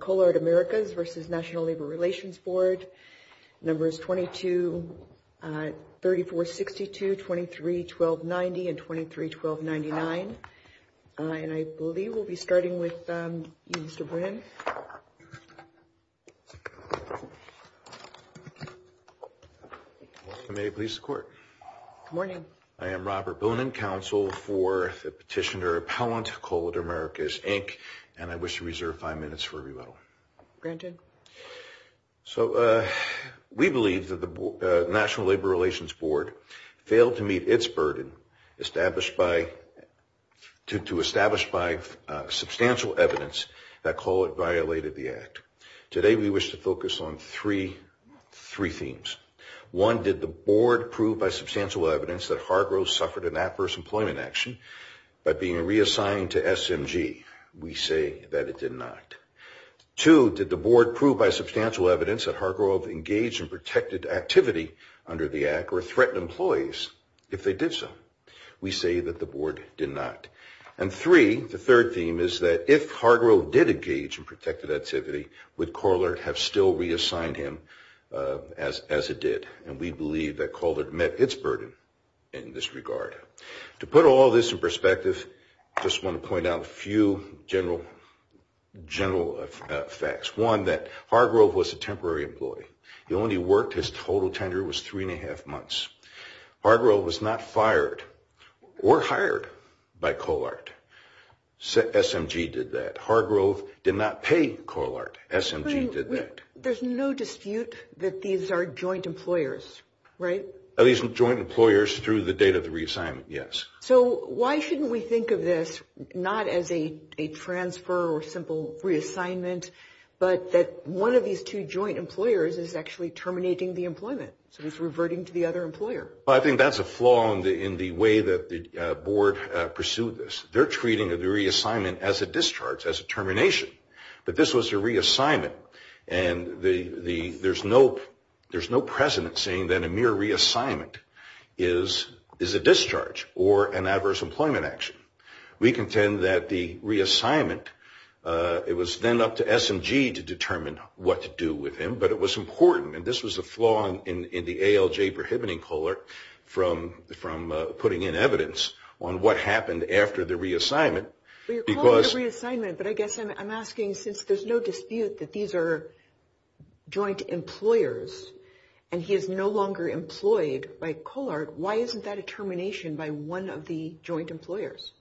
Colart Americas v. National Labor Relations Board Numbers 22, 3462, 23-1290, and 23-1299, and I believe we'll be starting with you, Mr. Brin. May it please the Court. Good morning. I am Robert Boone, Counsel for the Petitioner Appellant, Colart Americas, Inc., and I wish to reserve five minutes for rebuttal. Granted. So we believe that the National Labor Relations Board failed to meet its burden to establish by substantial evidence that Colart violated the Act. Today we wish to focus on three themes. One, did the Board prove by substantial evidence that Hargrove suffered an adverse employment action by being reassigned to SMG? We say that it did not. Two, did the Board prove by substantial evidence that Hargrove engaged in protected activity under the Act or threatened employees if they did so? We say that the Board did not. And three, the third theme is that if Hargrove did engage in protected activity, would Colart have still reassigned him as it did? And we believe that Colart met its burden in this regard. To put all this in perspective, I just want to point out a few general facts. One, that Hargrove was a temporary employee. He only worked his total tender was three and a half months. Hargrove was not fired or hired by Colart. SMG did that. Hargrove did not pay Colart. SMG did that. There's no dispute that these are joint employers, right? At least joint employers through the date of the reassignment, yes. So why shouldn't we think of this not as a transfer or simple reassignment, but that one of these two joint employers is actually terminating the employment? So he's reverting to the other employer. Well, I think that's a flaw in the way that the Board pursued this. They're treating the reassignment as a discharge, as a termination. But this was a reassignment, and there's no precedent saying that a mere reassignment is a discharge or an adverse employment action. We contend that the reassignment, it was then up to SMG to determine what to do with him, but it was important. And this was a flaw in the ALJ prohibiting Colart from putting in evidence on what happened after the reassignment. Well, you're calling it a reassignment, but I guess I'm asking since there's no dispute that these are joint employers and he is no longer employed by Colart, why isn't that a termination by one of the joint employers?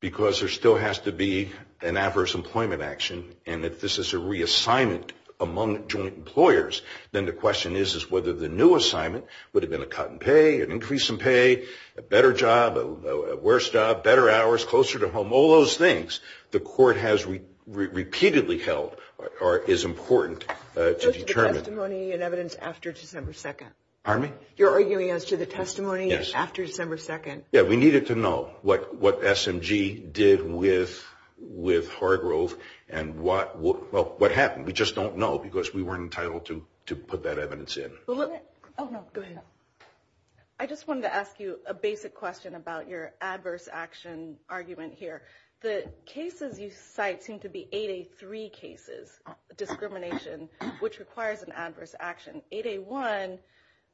Because there still has to be an adverse employment action, and if this is a reassignment among joint employers, then the question is whether the new assignment would have been a cut in pay, an increase in pay, a better job, a worse job, better hours, closer to home, all those things the Court has repeatedly held is important to determine. As to the testimony and evidence after December 2nd? Pardon me? You're arguing as to the testimony after December 2nd? Yeah, we needed to know what SMG did with Hargrove and what happened. We just don't know because we weren't entitled to put that evidence in. Oh, no, go ahead. I just wanted to ask you a basic question about your adverse action argument here. The cases you cite seem to be 8A3 cases, discrimination, which requires an adverse action. 8A1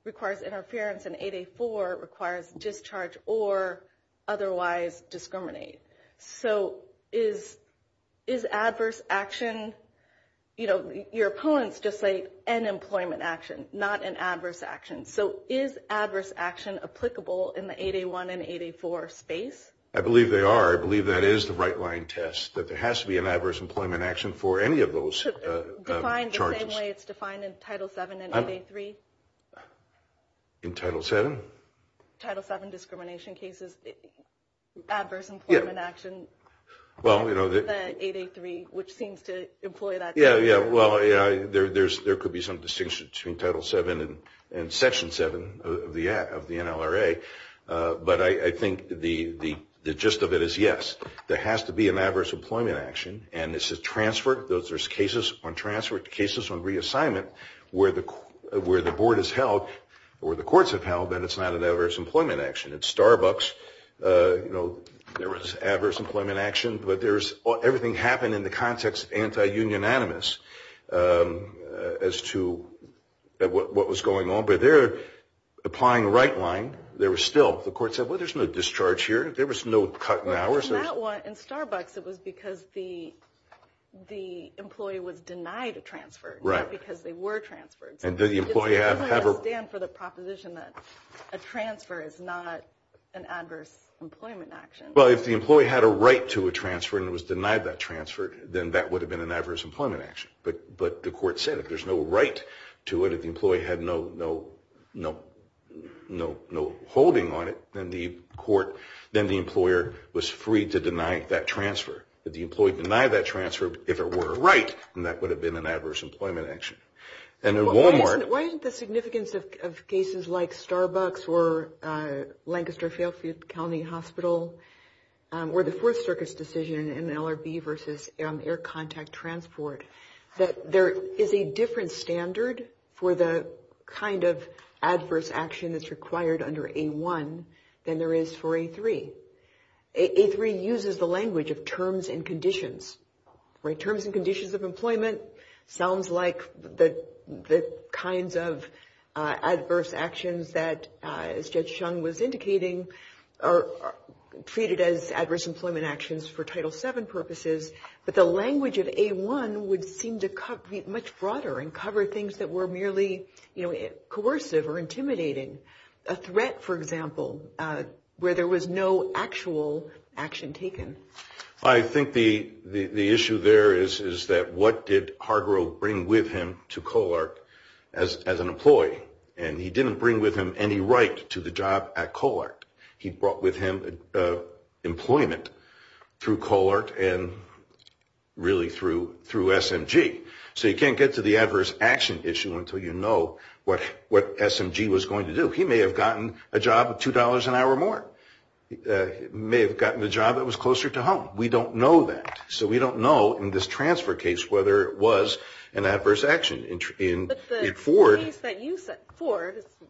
requires interference, and 8A4 requires discharge or otherwise discriminate. So is adverse action, you know, your opponents just say an employment action, not an adverse action. So is adverse action applicable in the 8A1 and 8A4 space? I believe they are. I believe that is the right-line test, that there has to be an adverse employment action for any of those charges. In the same way it's defined in Title VII and 8A3? In Title VII? Title VII discrimination cases, adverse employment action, than 8A3, which seems to employ that. Yeah, well, there could be some distinction between Title VII and Section VII of the NLRA, but I think the gist of it is, yes, there has to be an adverse employment action, and this is transferred, there's cases on transfer, cases on reassignment, where the board has held, or the courts have held, that it's not an adverse employment action. At Starbucks, you know, there was adverse employment action, but everything happened in the context of anti-union animus as to what was going on. But there, applying right-line, there was still, the court said, well, there's no discharge here. There was no cut in hours. Well, in that one, in Starbucks, it was because the employee was denied a transfer, not because they were transferred. It doesn't stand for the proposition that a transfer is not an adverse employment action. Well, if the employee had a right to a transfer and was denied that transfer, then that would have been an adverse employment action. But the court said if there's no right to it, if the employee had no holding on it, then the court, then the employer was free to deny that transfer. If the employee denied that transfer, if it were a right, then that would have been an adverse employment action. And at Wal-Mart. Why isn't the significance of cases like Starbucks or Lancaster-Fairfield County Hospital, or the Fourth Circuit's decision in LRB versus air contact transport, that there is a different standard for the kind of adverse action that's required under A-1 than there is for A-3. A-3 uses the language of terms and conditions. Terms and conditions of employment sounds like the kinds of adverse actions that, as Judge Chung was indicating, are treated as adverse employment actions for Title VII purposes. But the language of A-1 would seem to be much broader and cover things that were merely coercive or intimidating. A threat, for example, where there was no actual action taken. I think the issue there is that what did Hargrove bring with him to COLARC as an employee? And he didn't bring with him any right to the job at COLARC. He brought with him employment through COLARC and really through SMG. So you can't get to the adverse action issue until you know what SMG was going to do. He may have gotten a job at $2 an hour more. He may have gotten a job that was closer to home. We don't know that. So we don't know in this transfer case whether it was an adverse action. But the case that you said,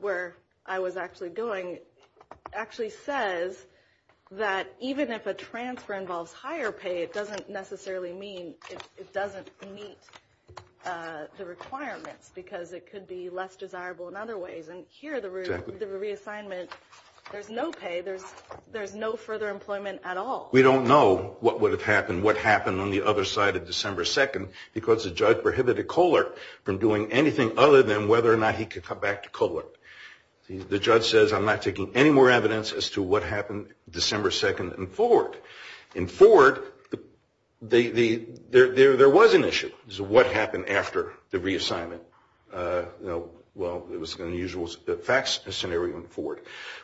where I was actually going, actually says that even if a transfer involves higher pay, it doesn't necessarily mean it doesn't meet the requirements because it could be less desirable in other ways. And here, the reassignment, there's no pay. There's no further employment at all. We don't know what would have happened, what happened on the other side of December 2nd, because the judge prohibited COLARC from doing anything other than whether or not he could come back to COLARC. The judge says, I'm not taking any more evidence as to what happened December 2nd in Ford. In Ford, there was an issue as to what happened after the reassignment. Well, it was an unusual facts scenario in Ford.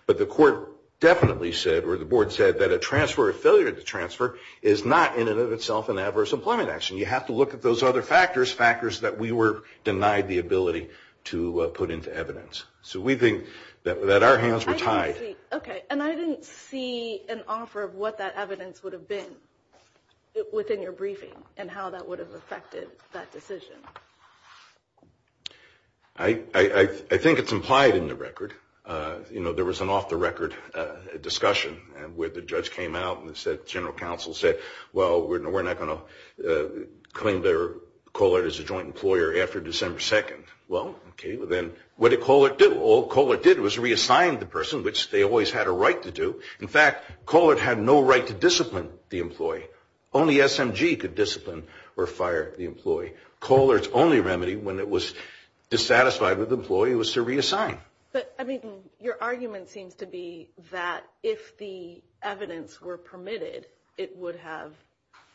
But the court definitely said, or the board said, that a transfer, a failure to transfer is not in and of itself an adverse employment action. You have to look at those other factors, factors that we were denied the ability to put into evidence. So we think that our hands were tied. Okay. And I didn't see an offer of what that evidence would have been within your briefing and how that would have affected that decision. I think it's implied in the record. You know, there was an off-the-record discussion where the judge came out and the general counsel said, well, we're not going to claim COLARC as a joint employer after December 2nd. Well, okay, then what did COLARC do? All COLARC did was reassign the person, which they always had a right to do. In fact, COLARC had no right to discipline the employee. Only SMG could discipline or fire the employee. COLARC's only remedy when it was dissatisfied with the employee was to reassign. But, I mean, your argument seems to be that if the evidence were permitted, it would have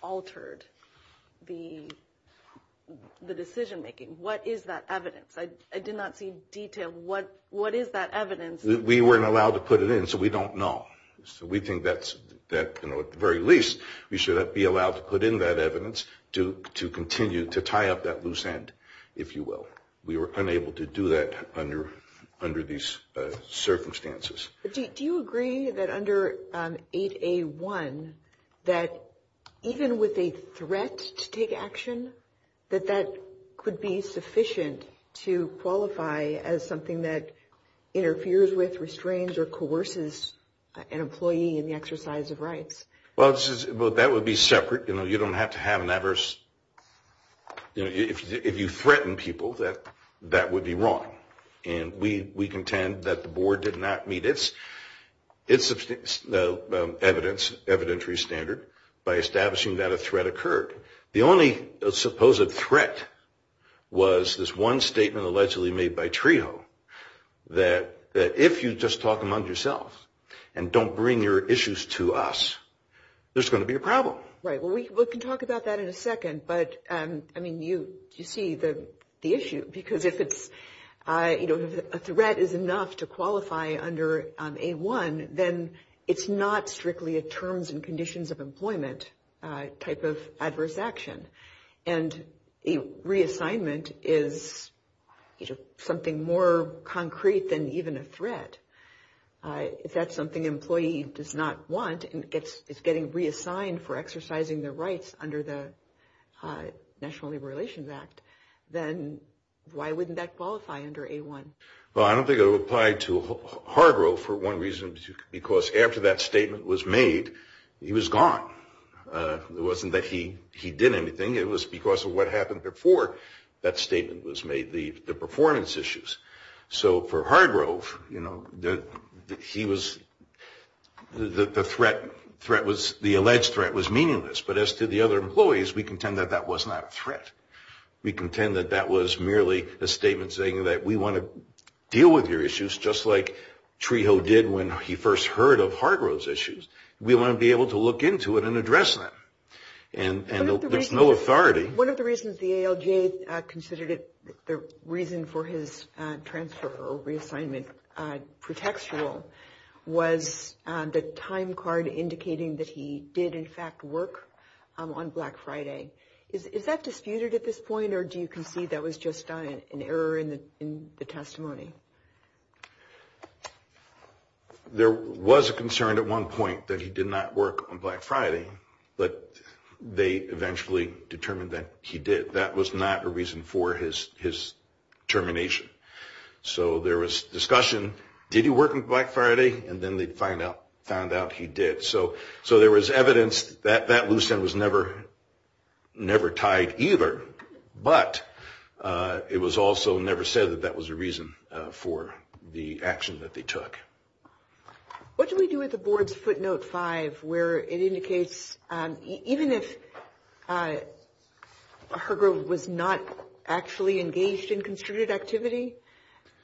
altered the decision-making. What is that evidence? I did not see detail. What is that evidence? We weren't allowed to put it in, so we don't know. So we think that, at the very least, we should be allowed to put in that evidence to continue to tie up that loose end, if you will. But we were unable to do that under these circumstances. Do you agree that under 8A1, that even with a threat to take action, that that could be sufficient to qualify as something that interferes with, restrains, or coerces an employee in the exercise of rights? Well, that would be separate. You don't have to have an adverse – if you threaten people, that would be wrong. And we contend that the Board did not meet its evidence, evidentiary standard, by establishing that a threat occurred. The only supposed threat was this one statement allegedly made by Trejo, that if you just talk among yourselves and don't bring your issues to us, there's going to be a problem. Right. Well, we can talk about that in a second. But, I mean, you see the issue, because if it's – if a threat is enough to qualify under 8A1, then it's not strictly a terms and conditions of employment type of adverse action. And a reassignment is something more concrete than even a threat. If that's something an employee does not want and is getting reassigned for exercising their rights under the National Labor Relations Act, then why wouldn't that qualify under 8A1? Well, I don't think it would apply to Hargrove for one reason or another, because after that statement was made, he was gone. It wasn't that he did anything. It was because of what happened before that statement was made, the performance issues. So for Hargrove, you know, he was – the threat was – the alleged threat was meaningless. But as to the other employees, we contend that that was not a threat. We contend that that was merely a statement saying that we want to deal with your issues, just like Trejo did when he first heard of Hargrove's issues. We want to be able to look into it and address that. And there's no authority. One of the reasons the ALJ considered it – the reason for his transfer or reassignment pretextual was the time card indicating that he did, in fact, work on Black Friday. Is that disputed at this point, or do you concede that was just an error in the testimony? There was a concern at one point that he did not work on Black Friday, but they eventually determined that he did. That was not a reason for his termination. So there was discussion. Did he work on Black Friday? And then they found out he did. So there was evidence that that loose end was never tied either, but it was also never said that that was a reason for the action that they took. What do we do with the board's footnote five where it indicates, even if Hargrove was not actually engaged in constricted activity,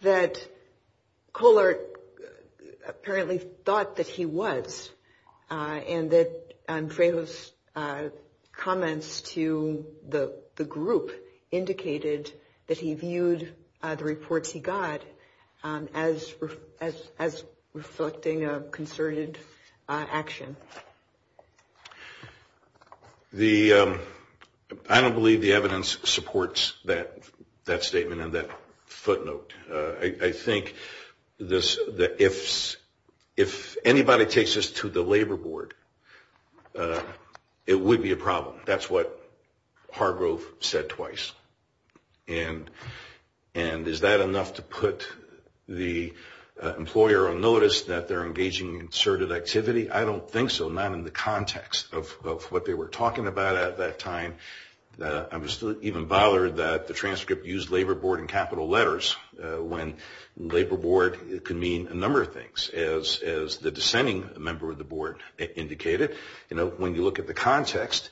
that Colart apparently thought that he was and that Trejo's comments to the group indicated that he viewed the reports he got as reflecting a concerted action? I don't believe the evidence supports that statement and that footnote. I think that if anybody takes this to the Labor Board, it would be a problem. That's what Hargrove said twice. And is that enough to put the employer on notice that they're engaging in concerted activity? I don't think so, not in the context of what they were talking about at that time. I was even bothered that the transcript used Labor Board in capital letters when Labor Board can mean a number of things. As the dissenting member of the board indicated, when you look at the context,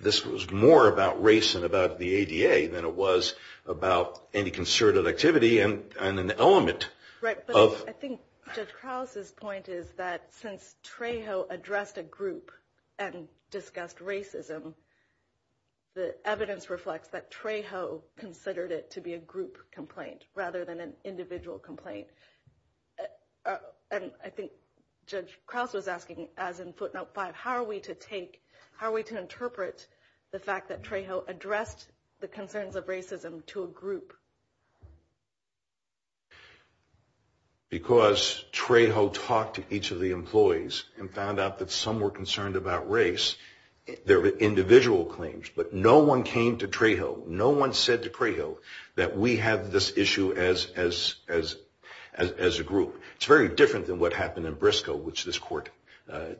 this was more about race and about the ADA than it was about any concerted activity and an element. Right, but I think Judge Krause's point is that since Trejo addressed a group and discussed racism, the evidence reflects that Trejo considered it to be a group complaint rather than an individual complaint. And I think Judge Krause was asking, as in footnote five, how are we to interpret the fact that Trejo addressed the concerns of racism to a group? Because Trejo talked to each of the employees and found out that some were concerned about race. They're individual claims, but no one came to Trejo. No one said to Trejo that we have this issue as a group. It's very different than what happened in Briscoe, which this court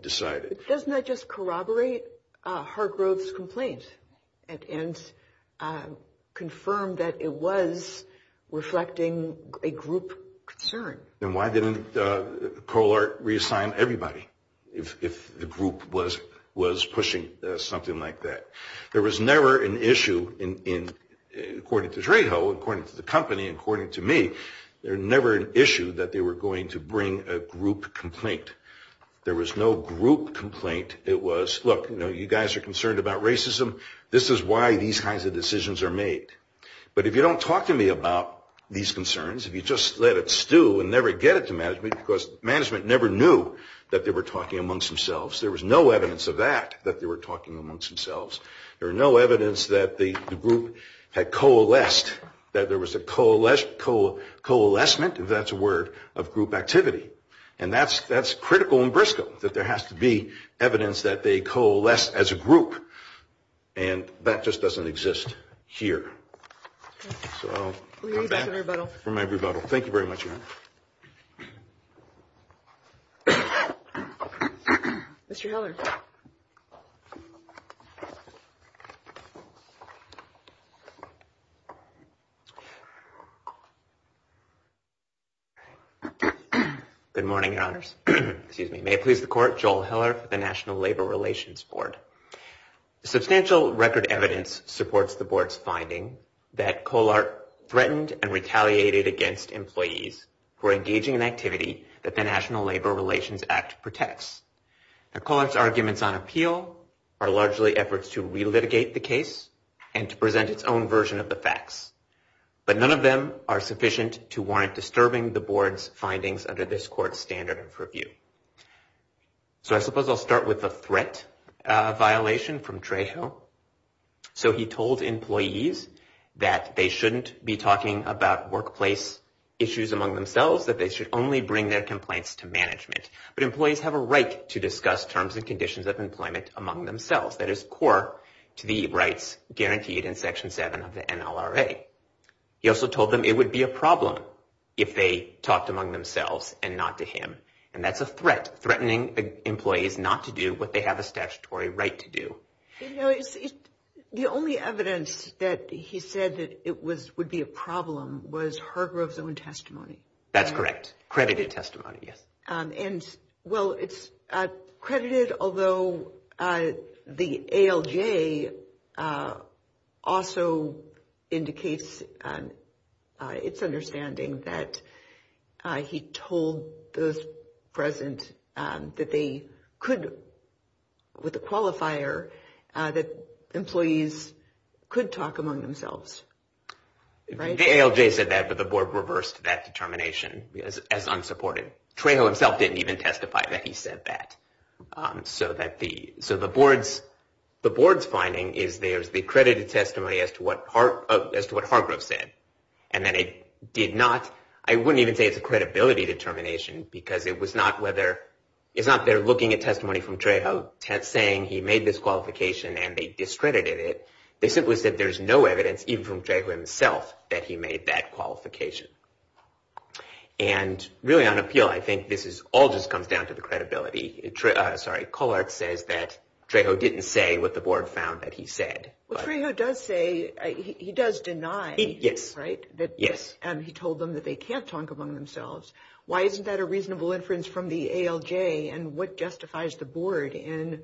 decided. Doesn't that just corroborate Hargrove's complaint and confirm that it was reflecting a group concern? Then why didn't Colart reassign everybody if the group was pushing something like that? There was never an issue, according to Trejo, according to the company, according to me, there was never an issue that they were going to bring a group complaint. There was no group complaint. It was, look, you guys are concerned about racism. This is why these kinds of decisions are made. But if you don't talk to me about these concerns, if you just let it stew and never get it to management, because management never knew that they were talking amongst themselves. There was no evidence of that, that they were talking amongst themselves. There was no evidence that the group had coalesced, that there was a coalescement, if that's a word, of group activity. And that's critical in Briscoe, that there has to be evidence that they coalesced as a group. And that just doesn't exist here. So I'll come back from my rebuttal. Thank you very much, Erin. Mr. Hiller. Good morning, Your Honors. May it please the Court, Joel Hiller for the National Labor Relations Board. Substantial record evidence supports the Board's finding that Colart threatened and retaliated against employees for engaging in activity that the National Labor Relations Act protects. Now, Colart's arguments on appeal are largely efforts to relitigate the case and to present its own version of the facts. But none of them are sufficient to warrant disturbing the Board's findings under this Court's standard of review. So I suppose I'll start with the threat violation from Trejo. So he told employees that they shouldn't be talking about workplace issues among themselves, that they should only bring their complaints to management. But employees have a right to discuss terms and conditions of employment among themselves. That is core to the rights guaranteed in Section 7 of the NLRA. He also told them it would be a problem if they talked among themselves and not to him. And that's a threat, threatening employees not to do what they have a statutory right to do. You know, the only evidence that he said that it would be a problem was Hargrove's own testimony. That's correct. Credited testimony, yes. Well, it's credited, although the ALJ also indicates its understanding that he told those present that they could, with a qualifier, that employees could talk among themselves. The ALJ said that, but the Board reversed that determination as unsupported. Trejo himself didn't even testify that he said that. So the Board's finding is there's the credited testimony as to what Hargrove said, and that it did not, I wouldn't even say it's a credibility determination, because it was not whether, it's not they're looking at testimony from Trejo saying he made this qualification and they discredited it. They simply said there's no evidence, even from Trejo himself, that he made that qualification. And really on appeal, I think this all just comes down to the credibility. Sorry, Collard says that Trejo didn't say what the Board found that he said. Well, Trejo does say, he does deny, right, that he told them that they can't talk among themselves. Why isn't that a reasonable inference from the ALJ, and what justifies the Board in,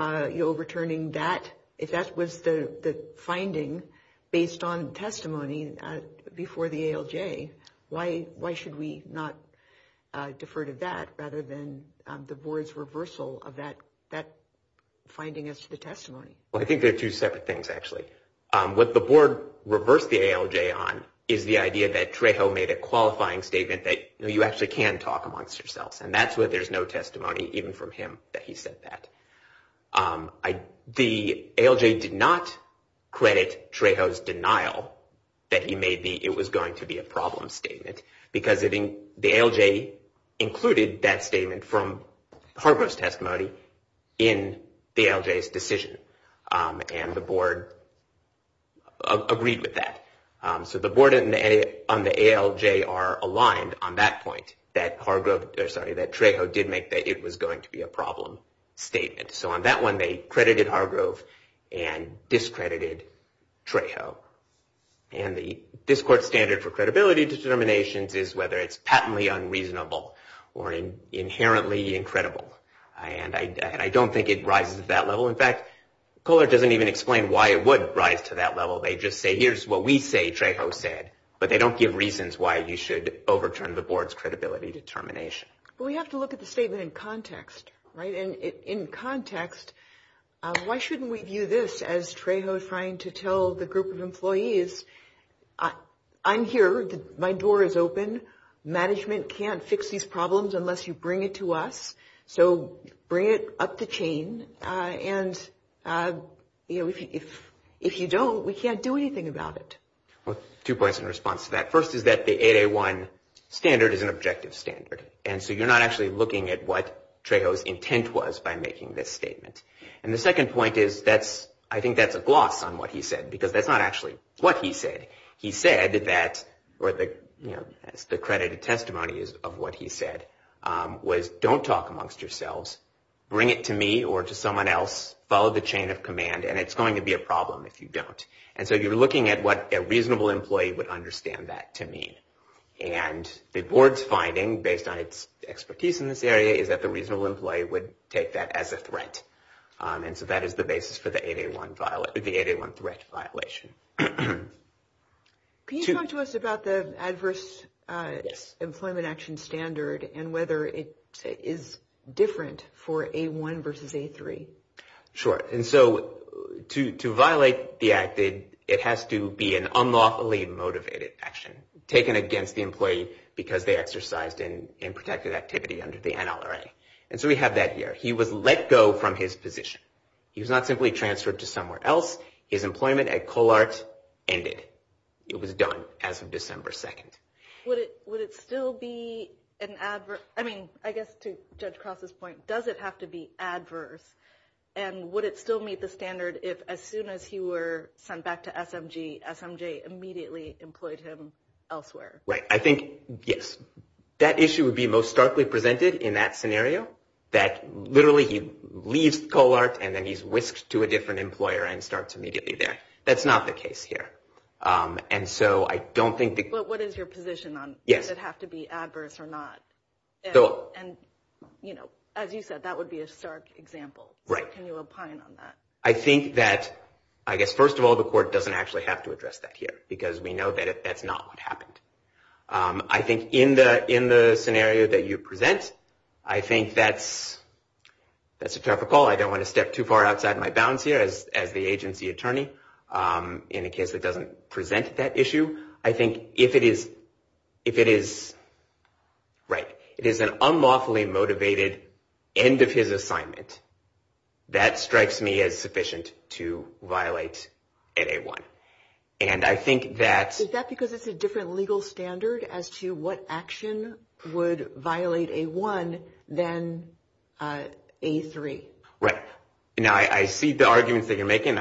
you know, if that was the finding based on testimony before the ALJ, why should we not defer to that rather than the Board's reversal of that finding as to the testimony? Well, I think they're two separate things, actually. What the Board reversed the ALJ on is the idea that Trejo made a qualifying statement that, you know, you actually can talk amongst yourselves. And that's where there's no testimony, even from him, that he said that. The ALJ did not credit Trejo's denial that he made the, it was going to be a problem statement, because the ALJ included that statement from Hargrove's testimony in the ALJ's decision. And the Board agreed with that. So the Board and the ALJ are aligned on that point, that Trejo did make that it was going to be a problem statement. So on that one, they credited Hargrove and discredited Trejo. And the discord standard for credibility determinations is whether it's patently unreasonable or inherently incredible. And I don't think it rises to that level. In fact, Kohler doesn't even explain why it would rise to that level. They just say, here's what we say Trejo said, but they don't give reasons why you should overturn the Board's credibility determination. But we have to look at the statement in context, right? In context, why shouldn't we view this as Trejo trying to tell the group of employees, I'm here. My door is open. Management can't fix these problems unless you bring it to us. So bring it up the chain. And, you know, if you don't, we can't do anything about it. Well, two points in response to that. First is that the 8A1 standard is an objective standard. And so you're not actually looking at what Trejo's intent was by making this statement. And the second point is, I think that's a gloss on what he said, because that's not actually what he said. He said that, or the credited testimony of what he said was, don't talk amongst yourselves. Bring it to me or to someone else. Follow the chain of command. And it's going to be a problem if you don't. And so you're looking at what a reasonable employee would understand that to mean. And the board's finding, based on its expertise in this area, is that the reasonable employee would take that as a threat. And so that is the basis for the 8A1 threat violation. Can you talk to us about the adverse employment action standard and whether it is different for A1 versus A3? Sure. And so to violate the act, it has to be an unlawfully motivated action taken against the employee because they exercised in unprotected activity under the NLRA. And so we have that here. He was let go from his position. He was not simply transferred to somewhere else. His employment at Colart ended. It was done as of December 2nd. Would it still be an adverse? I mean, I guess to Judge Cross's point, does it have to be adverse? And would it still meet the standard if, as soon as he were sent back to SMG, SMJ immediately employed him elsewhere? Right. I think, yes. That issue would be most starkly presented in that scenario, that literally he leaves Colart and then he's whisked to a different employer and starts immediately there. That's not the case here. And so I don't think that – But what is your position on – Yes. Does it have to be adverse or not? And, you know, as you said, that would be a stark example. Right. Can you opine on that? I think that, I guess, first of all, the court doesn't actually have to address that here because we know that that's not what happened. I think in the scenario that you present, I think that's a terrible call. I don't want to step too far outside my bounds here as the agency attorney in a case that doesn't present that issue. I think if it is – right. It is an unlawfully motivated end of his assignment, that strikes me as sufficient to violate at A1. And I think that – Is that because it's a different legal standard as to what action would violate A1 than A3? Right. Now, I see the arguments that you're making.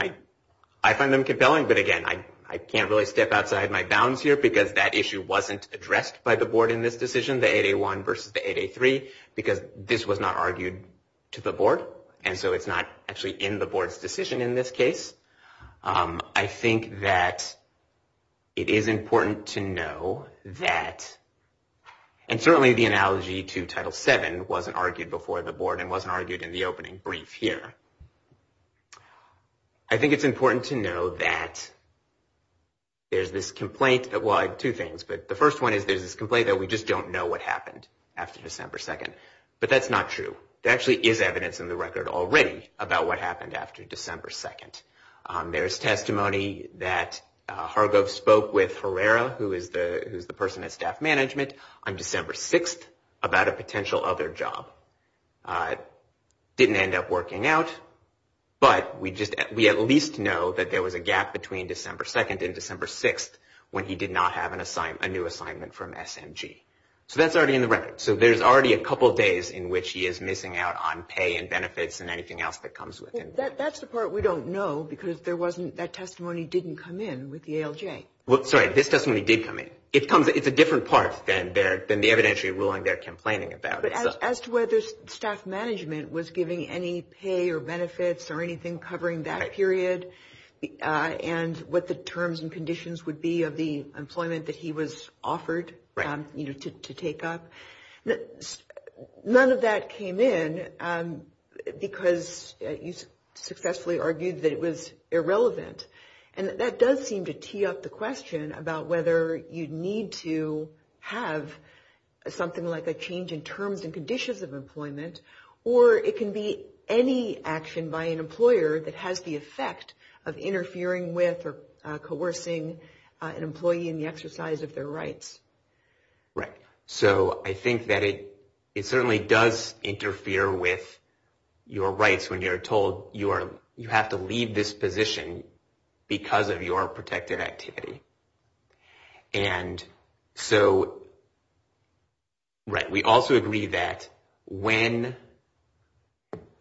I find them compelling. But, again, I can't really step outside my bounds here because that issue wasn't addressed by the board in this decision, the 8A1 versus the 8A3, because this was not argued to the board. And so it's not actually in the board's decision in this case. I think that it is important to know that – and certainly the analogy to Title VII wasn't argued before the board and wasn't I think it's important to know that there's this complaint – well, two things. But the first one is there's this complaint that we just don't know what happened after December 2nd. But that's not true. There actually is evidence in the record already about what happened after December 2nd. There's testimony that Hargov spoke with Herrera, who is the person at staff management, on December 6th about a potential other job. Didn't end up working out. But we at least know that there was a gap between December 2nd and December 6th when he did not have a new assignment from SMG. So that's already in the record. So there's already a couple of days in which he is missing out on pay and benefits and anything else that comes with it. That's the part we don't know because that testimony didn't come in with the ALJ. Sorry, this testimony did come in. It's a different part than the evidentiary ruling they're complaining about. But as to whether staff management was giving any pay or benefits or anything covering that period and what the terms and conditions would be of the employment that he was offered to take up, none of that came in because you successfully argued that it was irrelevant. And that does seem to tee up the question about whether you need to have something like a change in terms and conditions of employment or it can be any action by an employer that has the effect of interfering with or coercing an employee in the exercise of their rights. Right. So I think that it certainly does interfere with your rights when you're told you have to leave this position because of your protected activity. And so, right, we also agree that when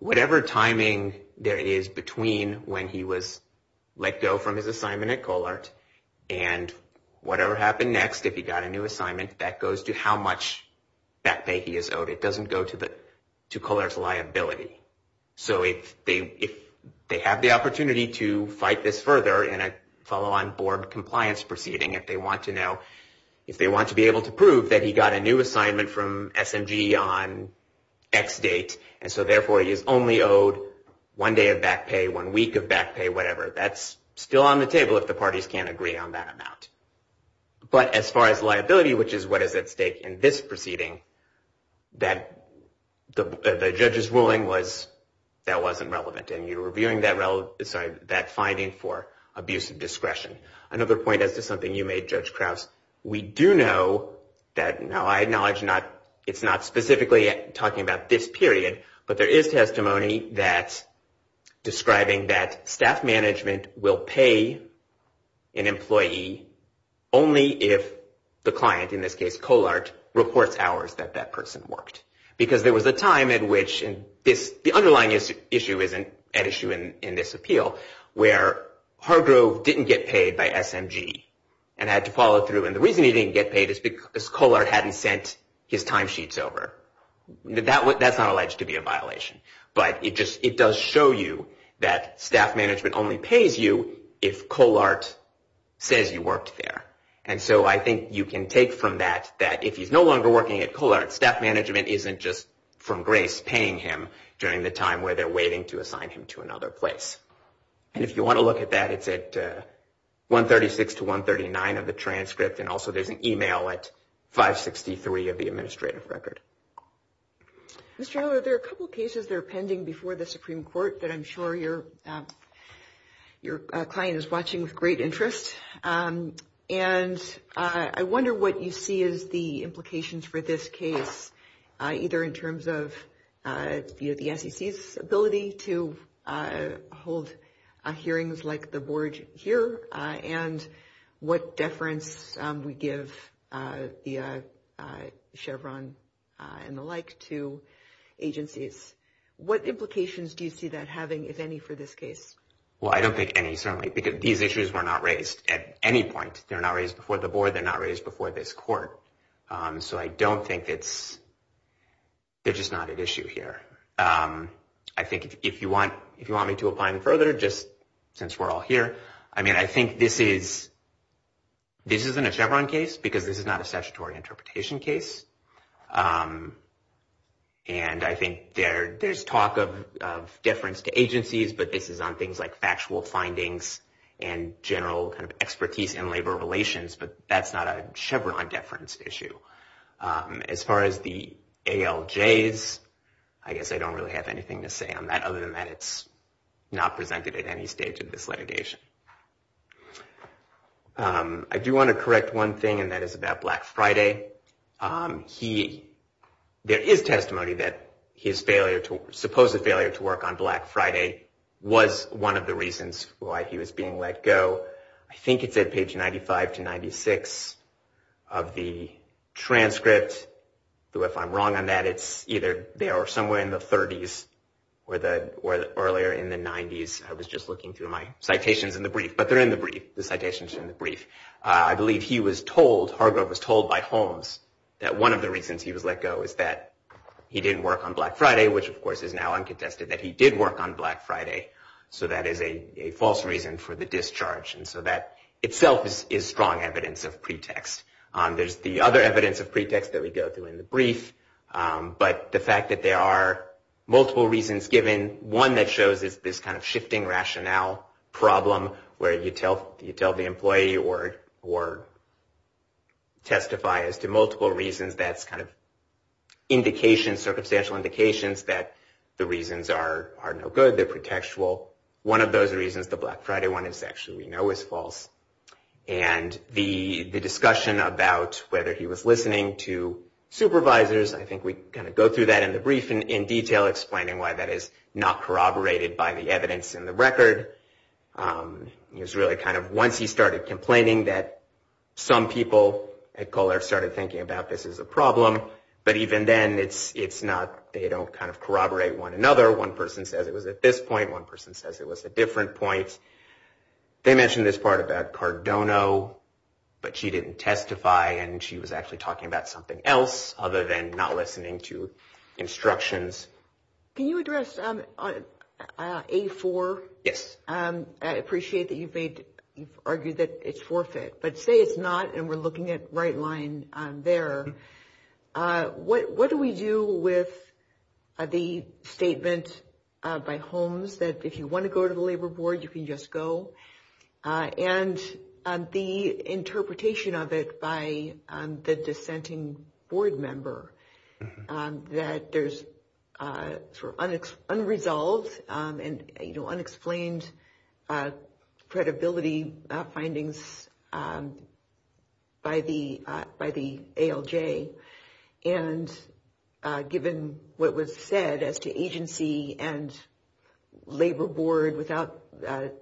whatever timing there is between when he was let go from his assignment at Colart and whatever happened next, if he got a new assignment, that goes to how much back pay he is owed. It doesn't go to Colart's liability. So if they have the opportunity to fight this further in a follow-on board compliance proceeding, if they want to be able to prove that he got a new assignment from SMG on X date and so therefore he is only owed one day of back pay, one week of back pay, whatever, that's still on the table if the parties can't agree on that amount. But as far as liability, which is what is at stake in this proceeding, the judge's ruling was that wasn't relevant and you're reviewing that finding for abuse of discretion. Another point as to something you made, Judge Krause, we do know that, now I acknowledge it's not specifically talking about this period, but there is testimony that's describing that staff management will pay an employee only if the client, in this case Colart, reports hours that that person worked. Because there was a time at which the underlying issue is an issue in this appeal where Hargrove didn't get paid by SMG and had to follow through. And the reason he didn't get paid is because Colart hadn't sent his timesheets over. That's not alleged to be a violation. But it does show you that staff management only pays you if Colart says you worked there. And so I think you can take from that that if he's no longer working at Colart, staff management isn't just, from grace, paying him during the time where they're waiting to assign him to another place. And if you want to look at that, it's at 136 to 139 of the transcript and also there's an email at 563 of the administrative record. Mr. Howell, there are a couple cases that are pending before the Supreme Court that I'm sure your client is watching with great interest. And I wonder what you see as the implications for this case, either in terms of the SEC's ability to hold hearings like the board here and what deference we give the Chevron and the like to agencies. What implications do you see that having, if any, for this case? Well, I don't think any, certainly, because these issues were not raised at any point. They're not raised before the board. They're not raised before this court. So I don't think it's – they're just not at issue here. I think if you want me to apply them further, just since we're all here, I mean, I think this is – this isn't a Chevron case because this is not a statutory interpretation case. And I think there's talk of deference to agencies, but this is on things like factual findings and general kind of expertise in labor relations, but that's not a Chevron deference issue. As far as the ALJs, I guess I don't really have anything to say on that other than that it's not presented at any stage of this litigation. I do want to correct one thing, and that is about Black Friday. He – there is testimony that his failure to – supposed failure to work on Black Friday was one of the reasons why he was being let go. I think it's at page 95 to 96 of the transcript. If I'm wrong on that, it's either there or somewhere in the 30s or earlier in the 90s. I was just looking through my citations in the brief, but they're in the brief. The citations are in the brief. I believe he was told – Hargrove was told by Holmes that one of the reasons he was let go was that he didn't work on Black Friday, which, of course, is now uncontested, that he did work on Black Friday. So that is a false reason for the discharge. And so that itself is strong evidence of pretext. There's the other evidence of pretext that we go through in the brief, but the fact that there are multiple reasons given, one that shows is this kind of shifting rationale problem where you tell the employee or testify as to multiple reasons that's kind of indications, circumstantial indications that the reasons are no good, they're pretextual. One of those reasons, the Black Friday one, is actually we know is false. And the discussion about whether he was listening to supervisors, I think we kind of go through that in the brief in detail, explaining why that is not corroborated by the evidence in the record. It was really kind of once he started complaining that some people at Kohler started thinking about this as a problem. But even then, it's not – they don't kind of corroborate one another. One person says it was at this point. One person says it was at different points. They mention this part about Cardono, but she didn't testify and she was actually talking about something else other than not listening to instructions. Can you address A4? Yes. I appreciate that you've made – you've argued that it's forfeit, but say it's not and we're looking at right line there. What do we do with the statement by Holmes that if you want to go to the Labor Board, you can just go and the interpretation of it by the dissenting board member that there's unresolved and unexplained credibility findings by the ALJ and given what was said as to agency and Labor Board without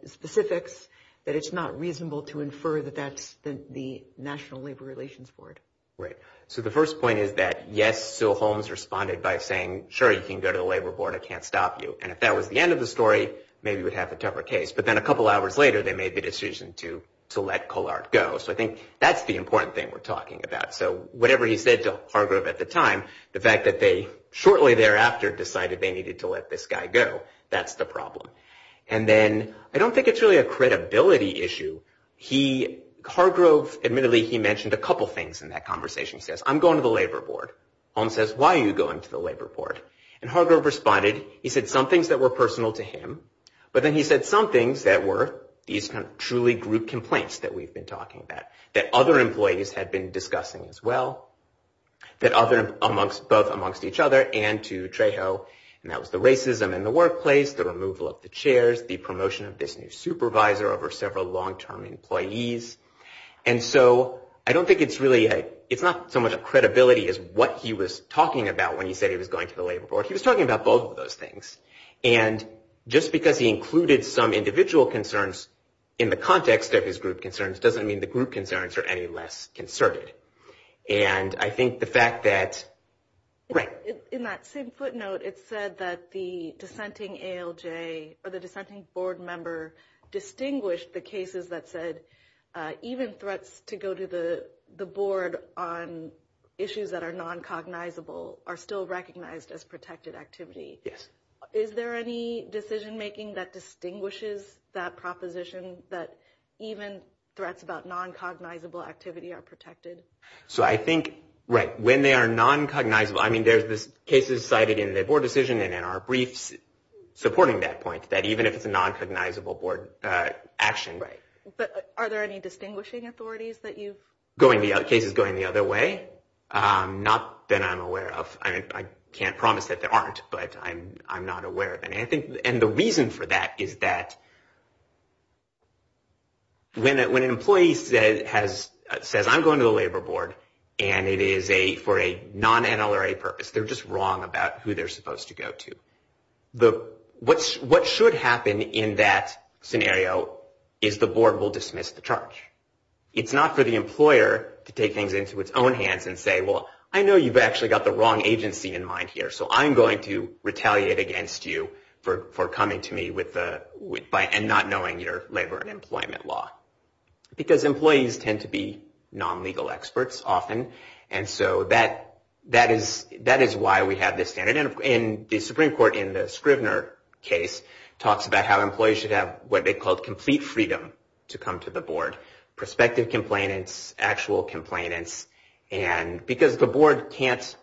specifics, that it's not reasonable to infer that that's the National Labor Relations Board. Right. So the first point is that yes, so Holmes responded by saying, sure, you can go to the Labor Board. I can't stop you. And if that was the end of the story, maybe we'd have a tougher case. But then a couple hours later, they made the decision to let Kohler go. So I think that's the important thing we're talking about. So whatever he said to Hargrove at the time, the fact that they shortly thereafter decided they needed to let this guy go, that's the problem. And then I don't think it's really a credibility issue. Hargrove, admittedly, he mentioned a couple things in that conversation. He says, I'm going to the Labor Board. Holmes says, why are you going to the Labor Board? And Hargrove responded. He said some things that were personal to him, but then he said some things that were these kind of truly group complaints that we've been talking about, that other employees had been discussing as well, that both amongst each other and to Trejo, and that was the racism in the workplace, the removal of the chairs, the promotion of this new supervisor over several long-term employees. And so I don't think it's really a, it's not so much a credibility as what he was talking about when he said he was going to the Labor Board. He was talking about both of those things. And just because he included some individual concerns in the context of his group concerns doesn't mean the group concerns are any less concerted. And I think the fact that, right. In that same footnote, it said that the dissenting ALJ or the dissenting board member distinguished the cases that said even threats to go to the board on issues that are non-cognizable are still recognized as protected activity. Yes. Is there any decision-making that distinguishes that proposition that even threats about non-cognizable activity are protected? So I think, right. When they are non-cognizable, I mean, there's cases cited in the board decision and in our briefs supporting that point, that even if it's a non-cognizable board action. Right. But are there any distinguishing authorities that you've? Cases going the other way? Not that I'm aware of. I mean, I can't promise that there aren't. But I'm not aware of any. And the reason for that is that when an employee says, I'm going to the labor board and it is for a non-NLRA purpose, they're just wrong about who they're supposed to go to. What should happen in that scenario is the board will dismiss the charge. It's not for the employer to take things into its own hands and say, well, I know you've actually got the wrong agency in mind here, so I'm going to retaliate against you for coming to me and not knowing your labor and employment law. Because employees tend to be non-legal experts often, and so that is why we have this standard. And the Supreme Court, in the Scrivner case, talks about how employees should have what they called complete freedom to come to the board, prospective complainants, actual complainants. Because the board can't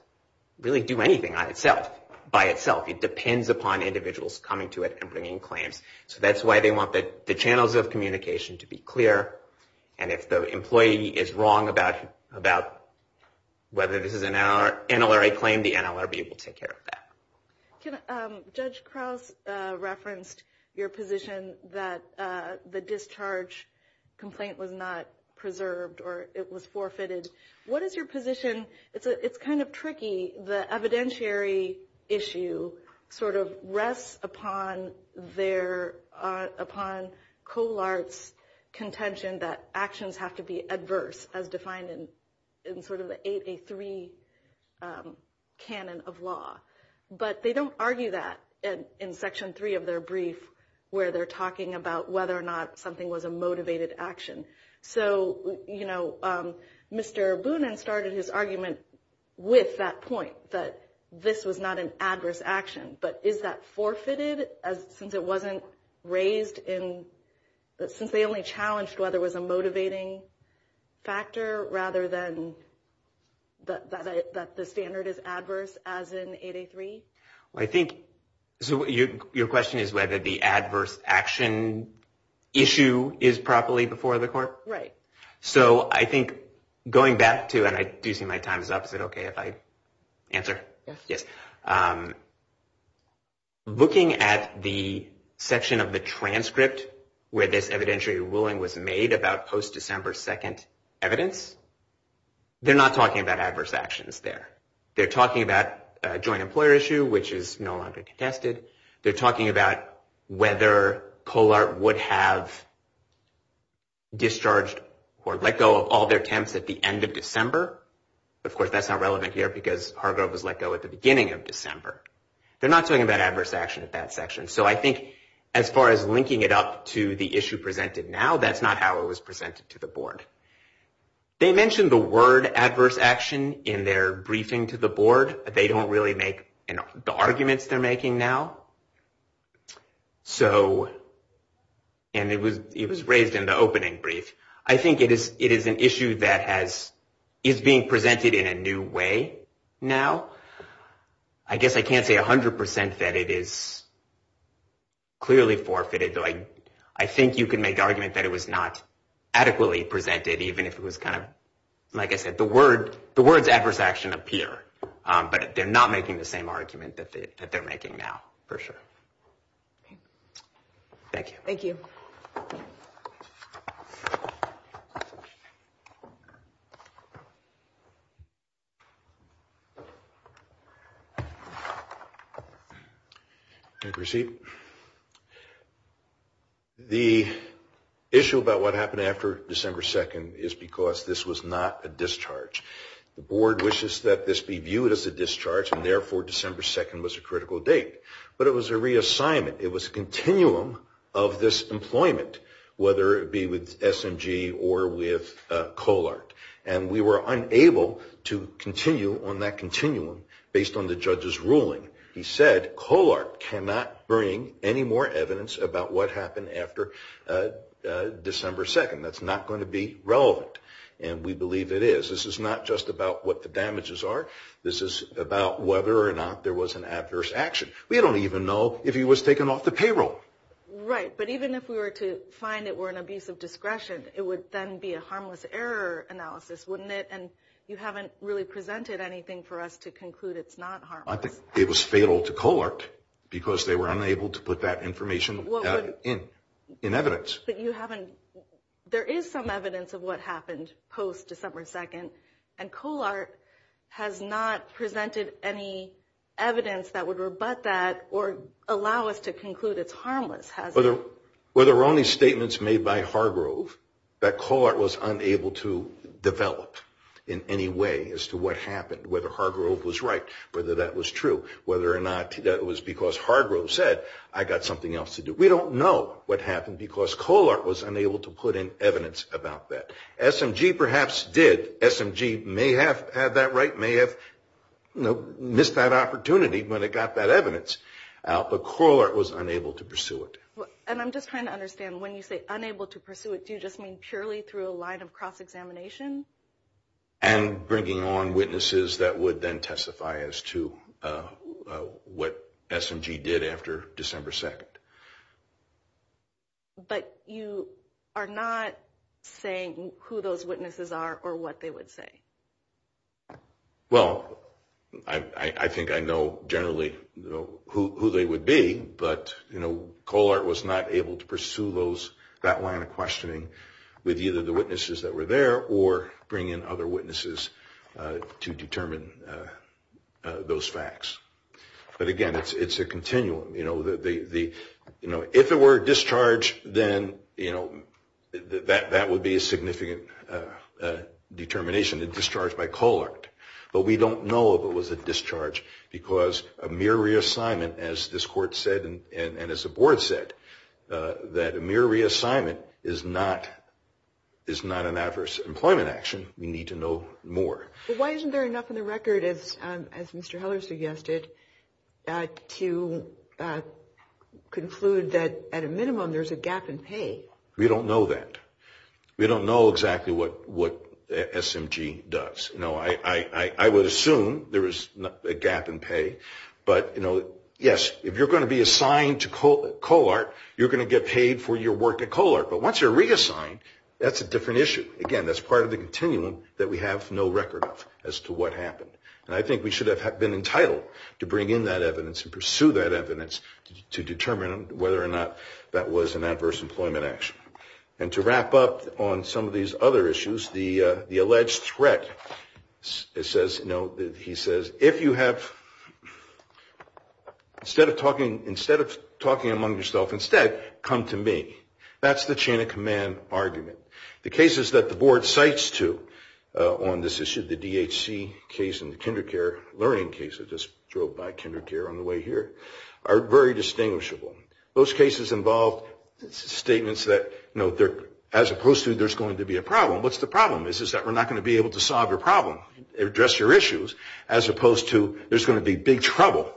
really do anything by itself. It depends upon individuals coming to it and bringing claims. So that's why they want the channels of communication to be clear. And if the employee is wrong about whether this is an NLRA claim, the NLRB will take care of that. Judge Krauss referenced your position that the discharge complaint was not preserved or it was forfeited. What is your position? It's kind of tricky. The evidentiary issue sort of rests upon COLART's contention that actions have to be adverse, as defined in sort of the 8A3 canon of law. But they don't argue that in Section 3 of their brief, where they're talking about whether or not something was a motivated action. So, you know, Mr. Boonin started his argument with that point, that this was not an adverse action. But is that forfeited since it wasn't raised in – since they only challenged whether it was a motivating factor rather than that the standard is adverse, as in 8A3? I think – so your question is whether the adverse action issue is properly before the court? Right. So I think going back to – and I do see my time is up. Is it okay if I answer? Yes. Yes. Looking at the section of the transcript where this evidentiary ruling was made about post-December 2nd evidence, they're not talking about adverse actions there. They're talking about a joint employer issue, which is no longer contested. They're talking about whether COLART would have discharged or let go of all their attempts at the end of December. Of course, that's not relevant here because Hargrove was let go at the beginning of December. They're not talking about adverse action at that section. So I think as far as linking it up to the issue presented now, that's not how it was presented to the board. They mentioned the word adverse action in their briefing to the board. They don't really make the arguments they're making now. So – and it was raised in the opening brief. I think it is an issue that is being presented in a new way now. I guess I can't say 100% that it is clearly forfeited, though I think you can make the argument that it was not adequately presented, even if it was kind of – like I said, the words adverse action appear, but they're not making the same argument that they're making now for sure. Thank you. Thank you. Thank you. The issue about what happened after December 2nd is because this was not a discharge. The board wishes that this be viewed as a discharge, and therefore December 2nd was a critical date. But it was a reassignment. It was a continuum of this employment, whether it be with SMG or with Colart. And we were unable to continue on that continuum based on the judge's ruling. He said Colart cannot bring any more evidence about what happened after December 2nd. That's not going to be relevant. And we believe it is. This is not just about what the damages are. This is about whether or not there was an adverse action. We don't even know if he was taken off the payroll. Right. But even if we were to find it were an abuse of discretion, it would then be a harmless error analysis, wouldn't it? And you haven't really presented anything for us to conclude it's not harmless. I think it was fatal to Colart because they were unable to put that information in evidence. But you haven't – there is some evidence of what happened post-December 2nd, and Colart has not presented any evidence that would rebut that or allow us to conclude it's harmless, has it? Whether only statements made by Hargrove that Colart was unable to develop in any way as to what happened, whether Hargrove was right, whether that was true, whether or not that was because Hargrove said, I've got something else to do. We don't know what happened because Colart was unable to put in evidence about that. SMG perhaps did. SMG may have had that right, may have missed that opportunity when it got that evidence out, but Colart was unable to pursue it. And I'm just trying to understand, when you say unable to pursue it, do you just mean purely through a line of cross-examination? And bringing on witnesses that would then testify as to what SMG did after December 2nd. But you are not saying who those witnesses are or what they would say. Well, I think I know generally who they would be, but Colart was not able to pursue that line of questioning with either the witnesses that were there or bring in other witnesses to determine those facts. But again, it's a continuum. If it were a discharge, then that would be a significant determination, a discharge by Colart. But we don't know if it was a discharge because a mere reassignment, as this Court said and as the Board said, that a mere reassignment is not an adverse employment action. We need to know more. But why isn't there enough in the record, as Mr. Heller suggested, to conclude that at a minimum there's a gap in pay? We don't know that. We don't know exactly what SMG does. No, I would assume there is a gap in pay. But yes, if you're going to be assigned to Colart, you're going to get paid for your work at Colart. But once you're reassigned, that's a different issue. Again, that's part of the continuum that we have no record of as to what happened. And I think we should have been entitled to bring in that evidence and pursue that evidence to determine whether or not that was an adverse employment action. And to wrap up on some of these other issues, the alleged threat, he says, if you have, instead of talking among yourself, instead come to me. That's the chain of command argument. The cases that the board cites to on this issue, the DHC case and the kinder care learning case, I just drove by kinder care on the way here, are very distinguishable. Those cases involve statements that, as opposed to there's going to be a problem, what's the problem? It's just that we're not going to be able to solve your problem, address your issues, as opposed to there's going to be big trouble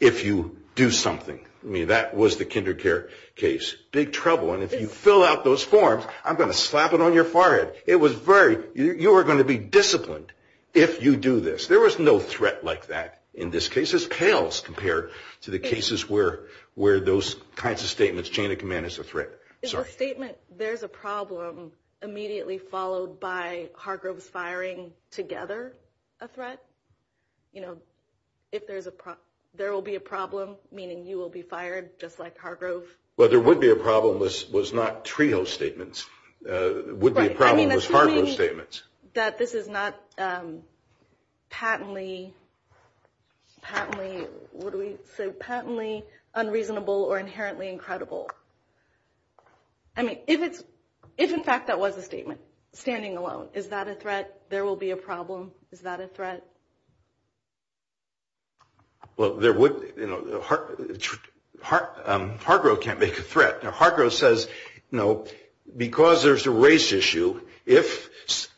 if you do something. I mean, that was the kinder care case, big trouble. And if you fill out those forms, I'm going to slap it on your forehead. It was very, you are going to be disciplined if you do this. There was no threat like that in this case. This pales compared to the cases where those kinds of statements, chain of command is a threat. Is the statement there's a problem immediately followed by Hargrove's firing together a threat? You know, if there's a, there will be a problem, meaning you will be fired just like Hargrove? Well, there would be a problem if it was not trio statements. It would be a problem if it was Hargrove's statements. That this is not patently, patently, what do we say, patently unreasonable or inherently incredible. I mean, if it's, if in fact that was a statement, standing alone, is that a threat? There will be a problem. Is that a threat? Well, there would, you know, Hargrove can't make a threat. Now, Hargrove says, you know, because there's a race issue, if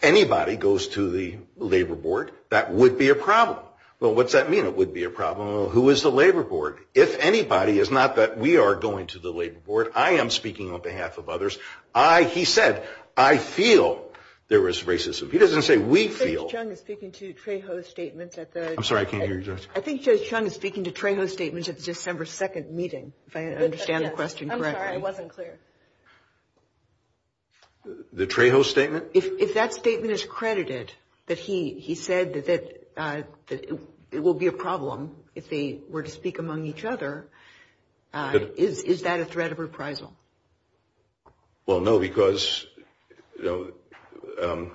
anybody goes to the labor board, that would be a problem. Well, what's that mean? It would be a problem. Well, who is the labor board? If anybody, it's not that we are going to the labor board. I am speaking on behalf of others. I, he said, I feel there was racism. He doesn't say we feel. I think Judge Chung is speaking to Trejo's statements at the. I'm sorry, I can't hear you, Judge. I think Judge Chung is speaking to Trejo's statements at the December 2nd meeting, if I understand the question correctly. I'm sorry, I wasn't clear. The Trejo statement? If that statement is credited, that he said that it will be a problem if they were to speak among each other, is that a threat of reprisal? Well, no, because, you know,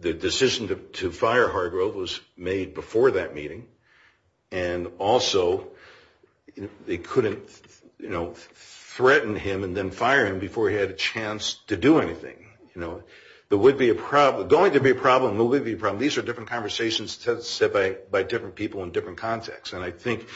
the decision to fire Hargrove was made before that meeting. And also, they couldn't, you know, threaten him and then fire him before he had a chance to do anything. You know, there would be a problem, going to be a problem, will be a problem. These are different conversations set by different people in different contexts. And I think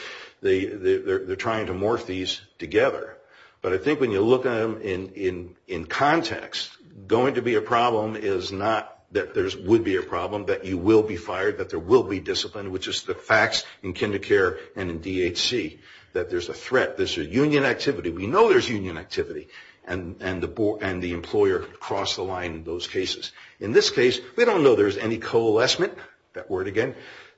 they're trying to morph these together. But I think when you look at them in context, going to be a problem is not that there would be a problem, that you will be fired, that there will be discipline, which is the facts in kinder care and in DHC, that there's a threat, there's a union activity. We know there's union activity, and the employer crossed the line in those cases. In this case, we don't know there's any coalescement, that word again,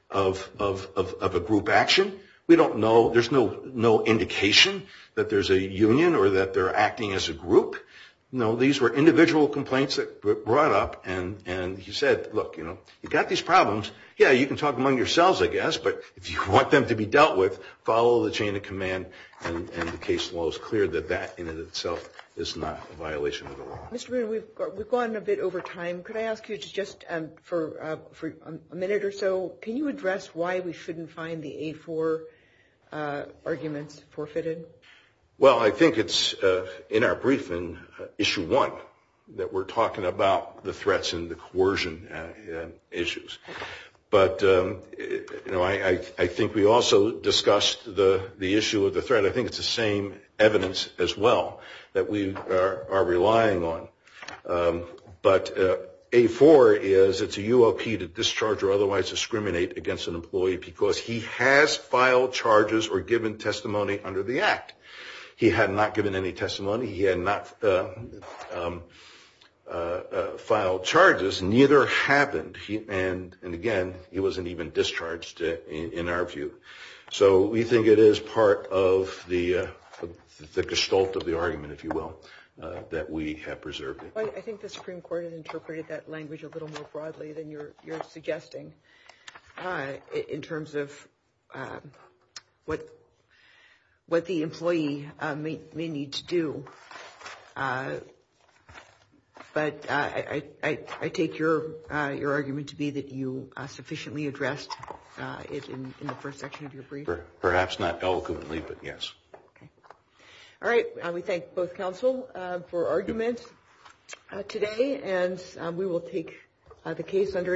of a group action. We don't know, there's no indication that there's a union or that they're acting as a group. You know, these were individual complaints that were brought up. And he said, look, you know, you've got these problems. Yeah, you can talk among yourselves, I guess, but if you want them to be dealt with, follow the chain of command. And the case law is clear that that in and of itself is not a violation of the law. Mr. Boone, we've gone a bit over time. Could I ask you just for a minute or so, can you address why we shouldn't find the A4 arguments forfeited? Well, I think it's in our briefing, Issue 1, that we're talking about the threats and the coercion issues. But, you know, I think we also discussed the issue of the threat. I think it's the same evidence as well that we are relying on. But A4 is, it's a UOP to discharge or otherwise discriminate against an employee because he has filed charges or given testimony under the Act. He had not given any testimony. He had not filed charges. Neither have he. And, again, he wasn't even discharged, in our view. So we think it is part of the gestalt of the argument, if you will, that we have preserved it. I think the Supreme Court has interpreted that language a little more broadly than you're suggesting in terms of what the employee may need to do. But I take your argument to be that you sufficiently addressed it in the first section of your brief. Perhaps not eloquently, but yes. Okay. All right. We thank both counsel for arguments today. And we will take the case under advisory.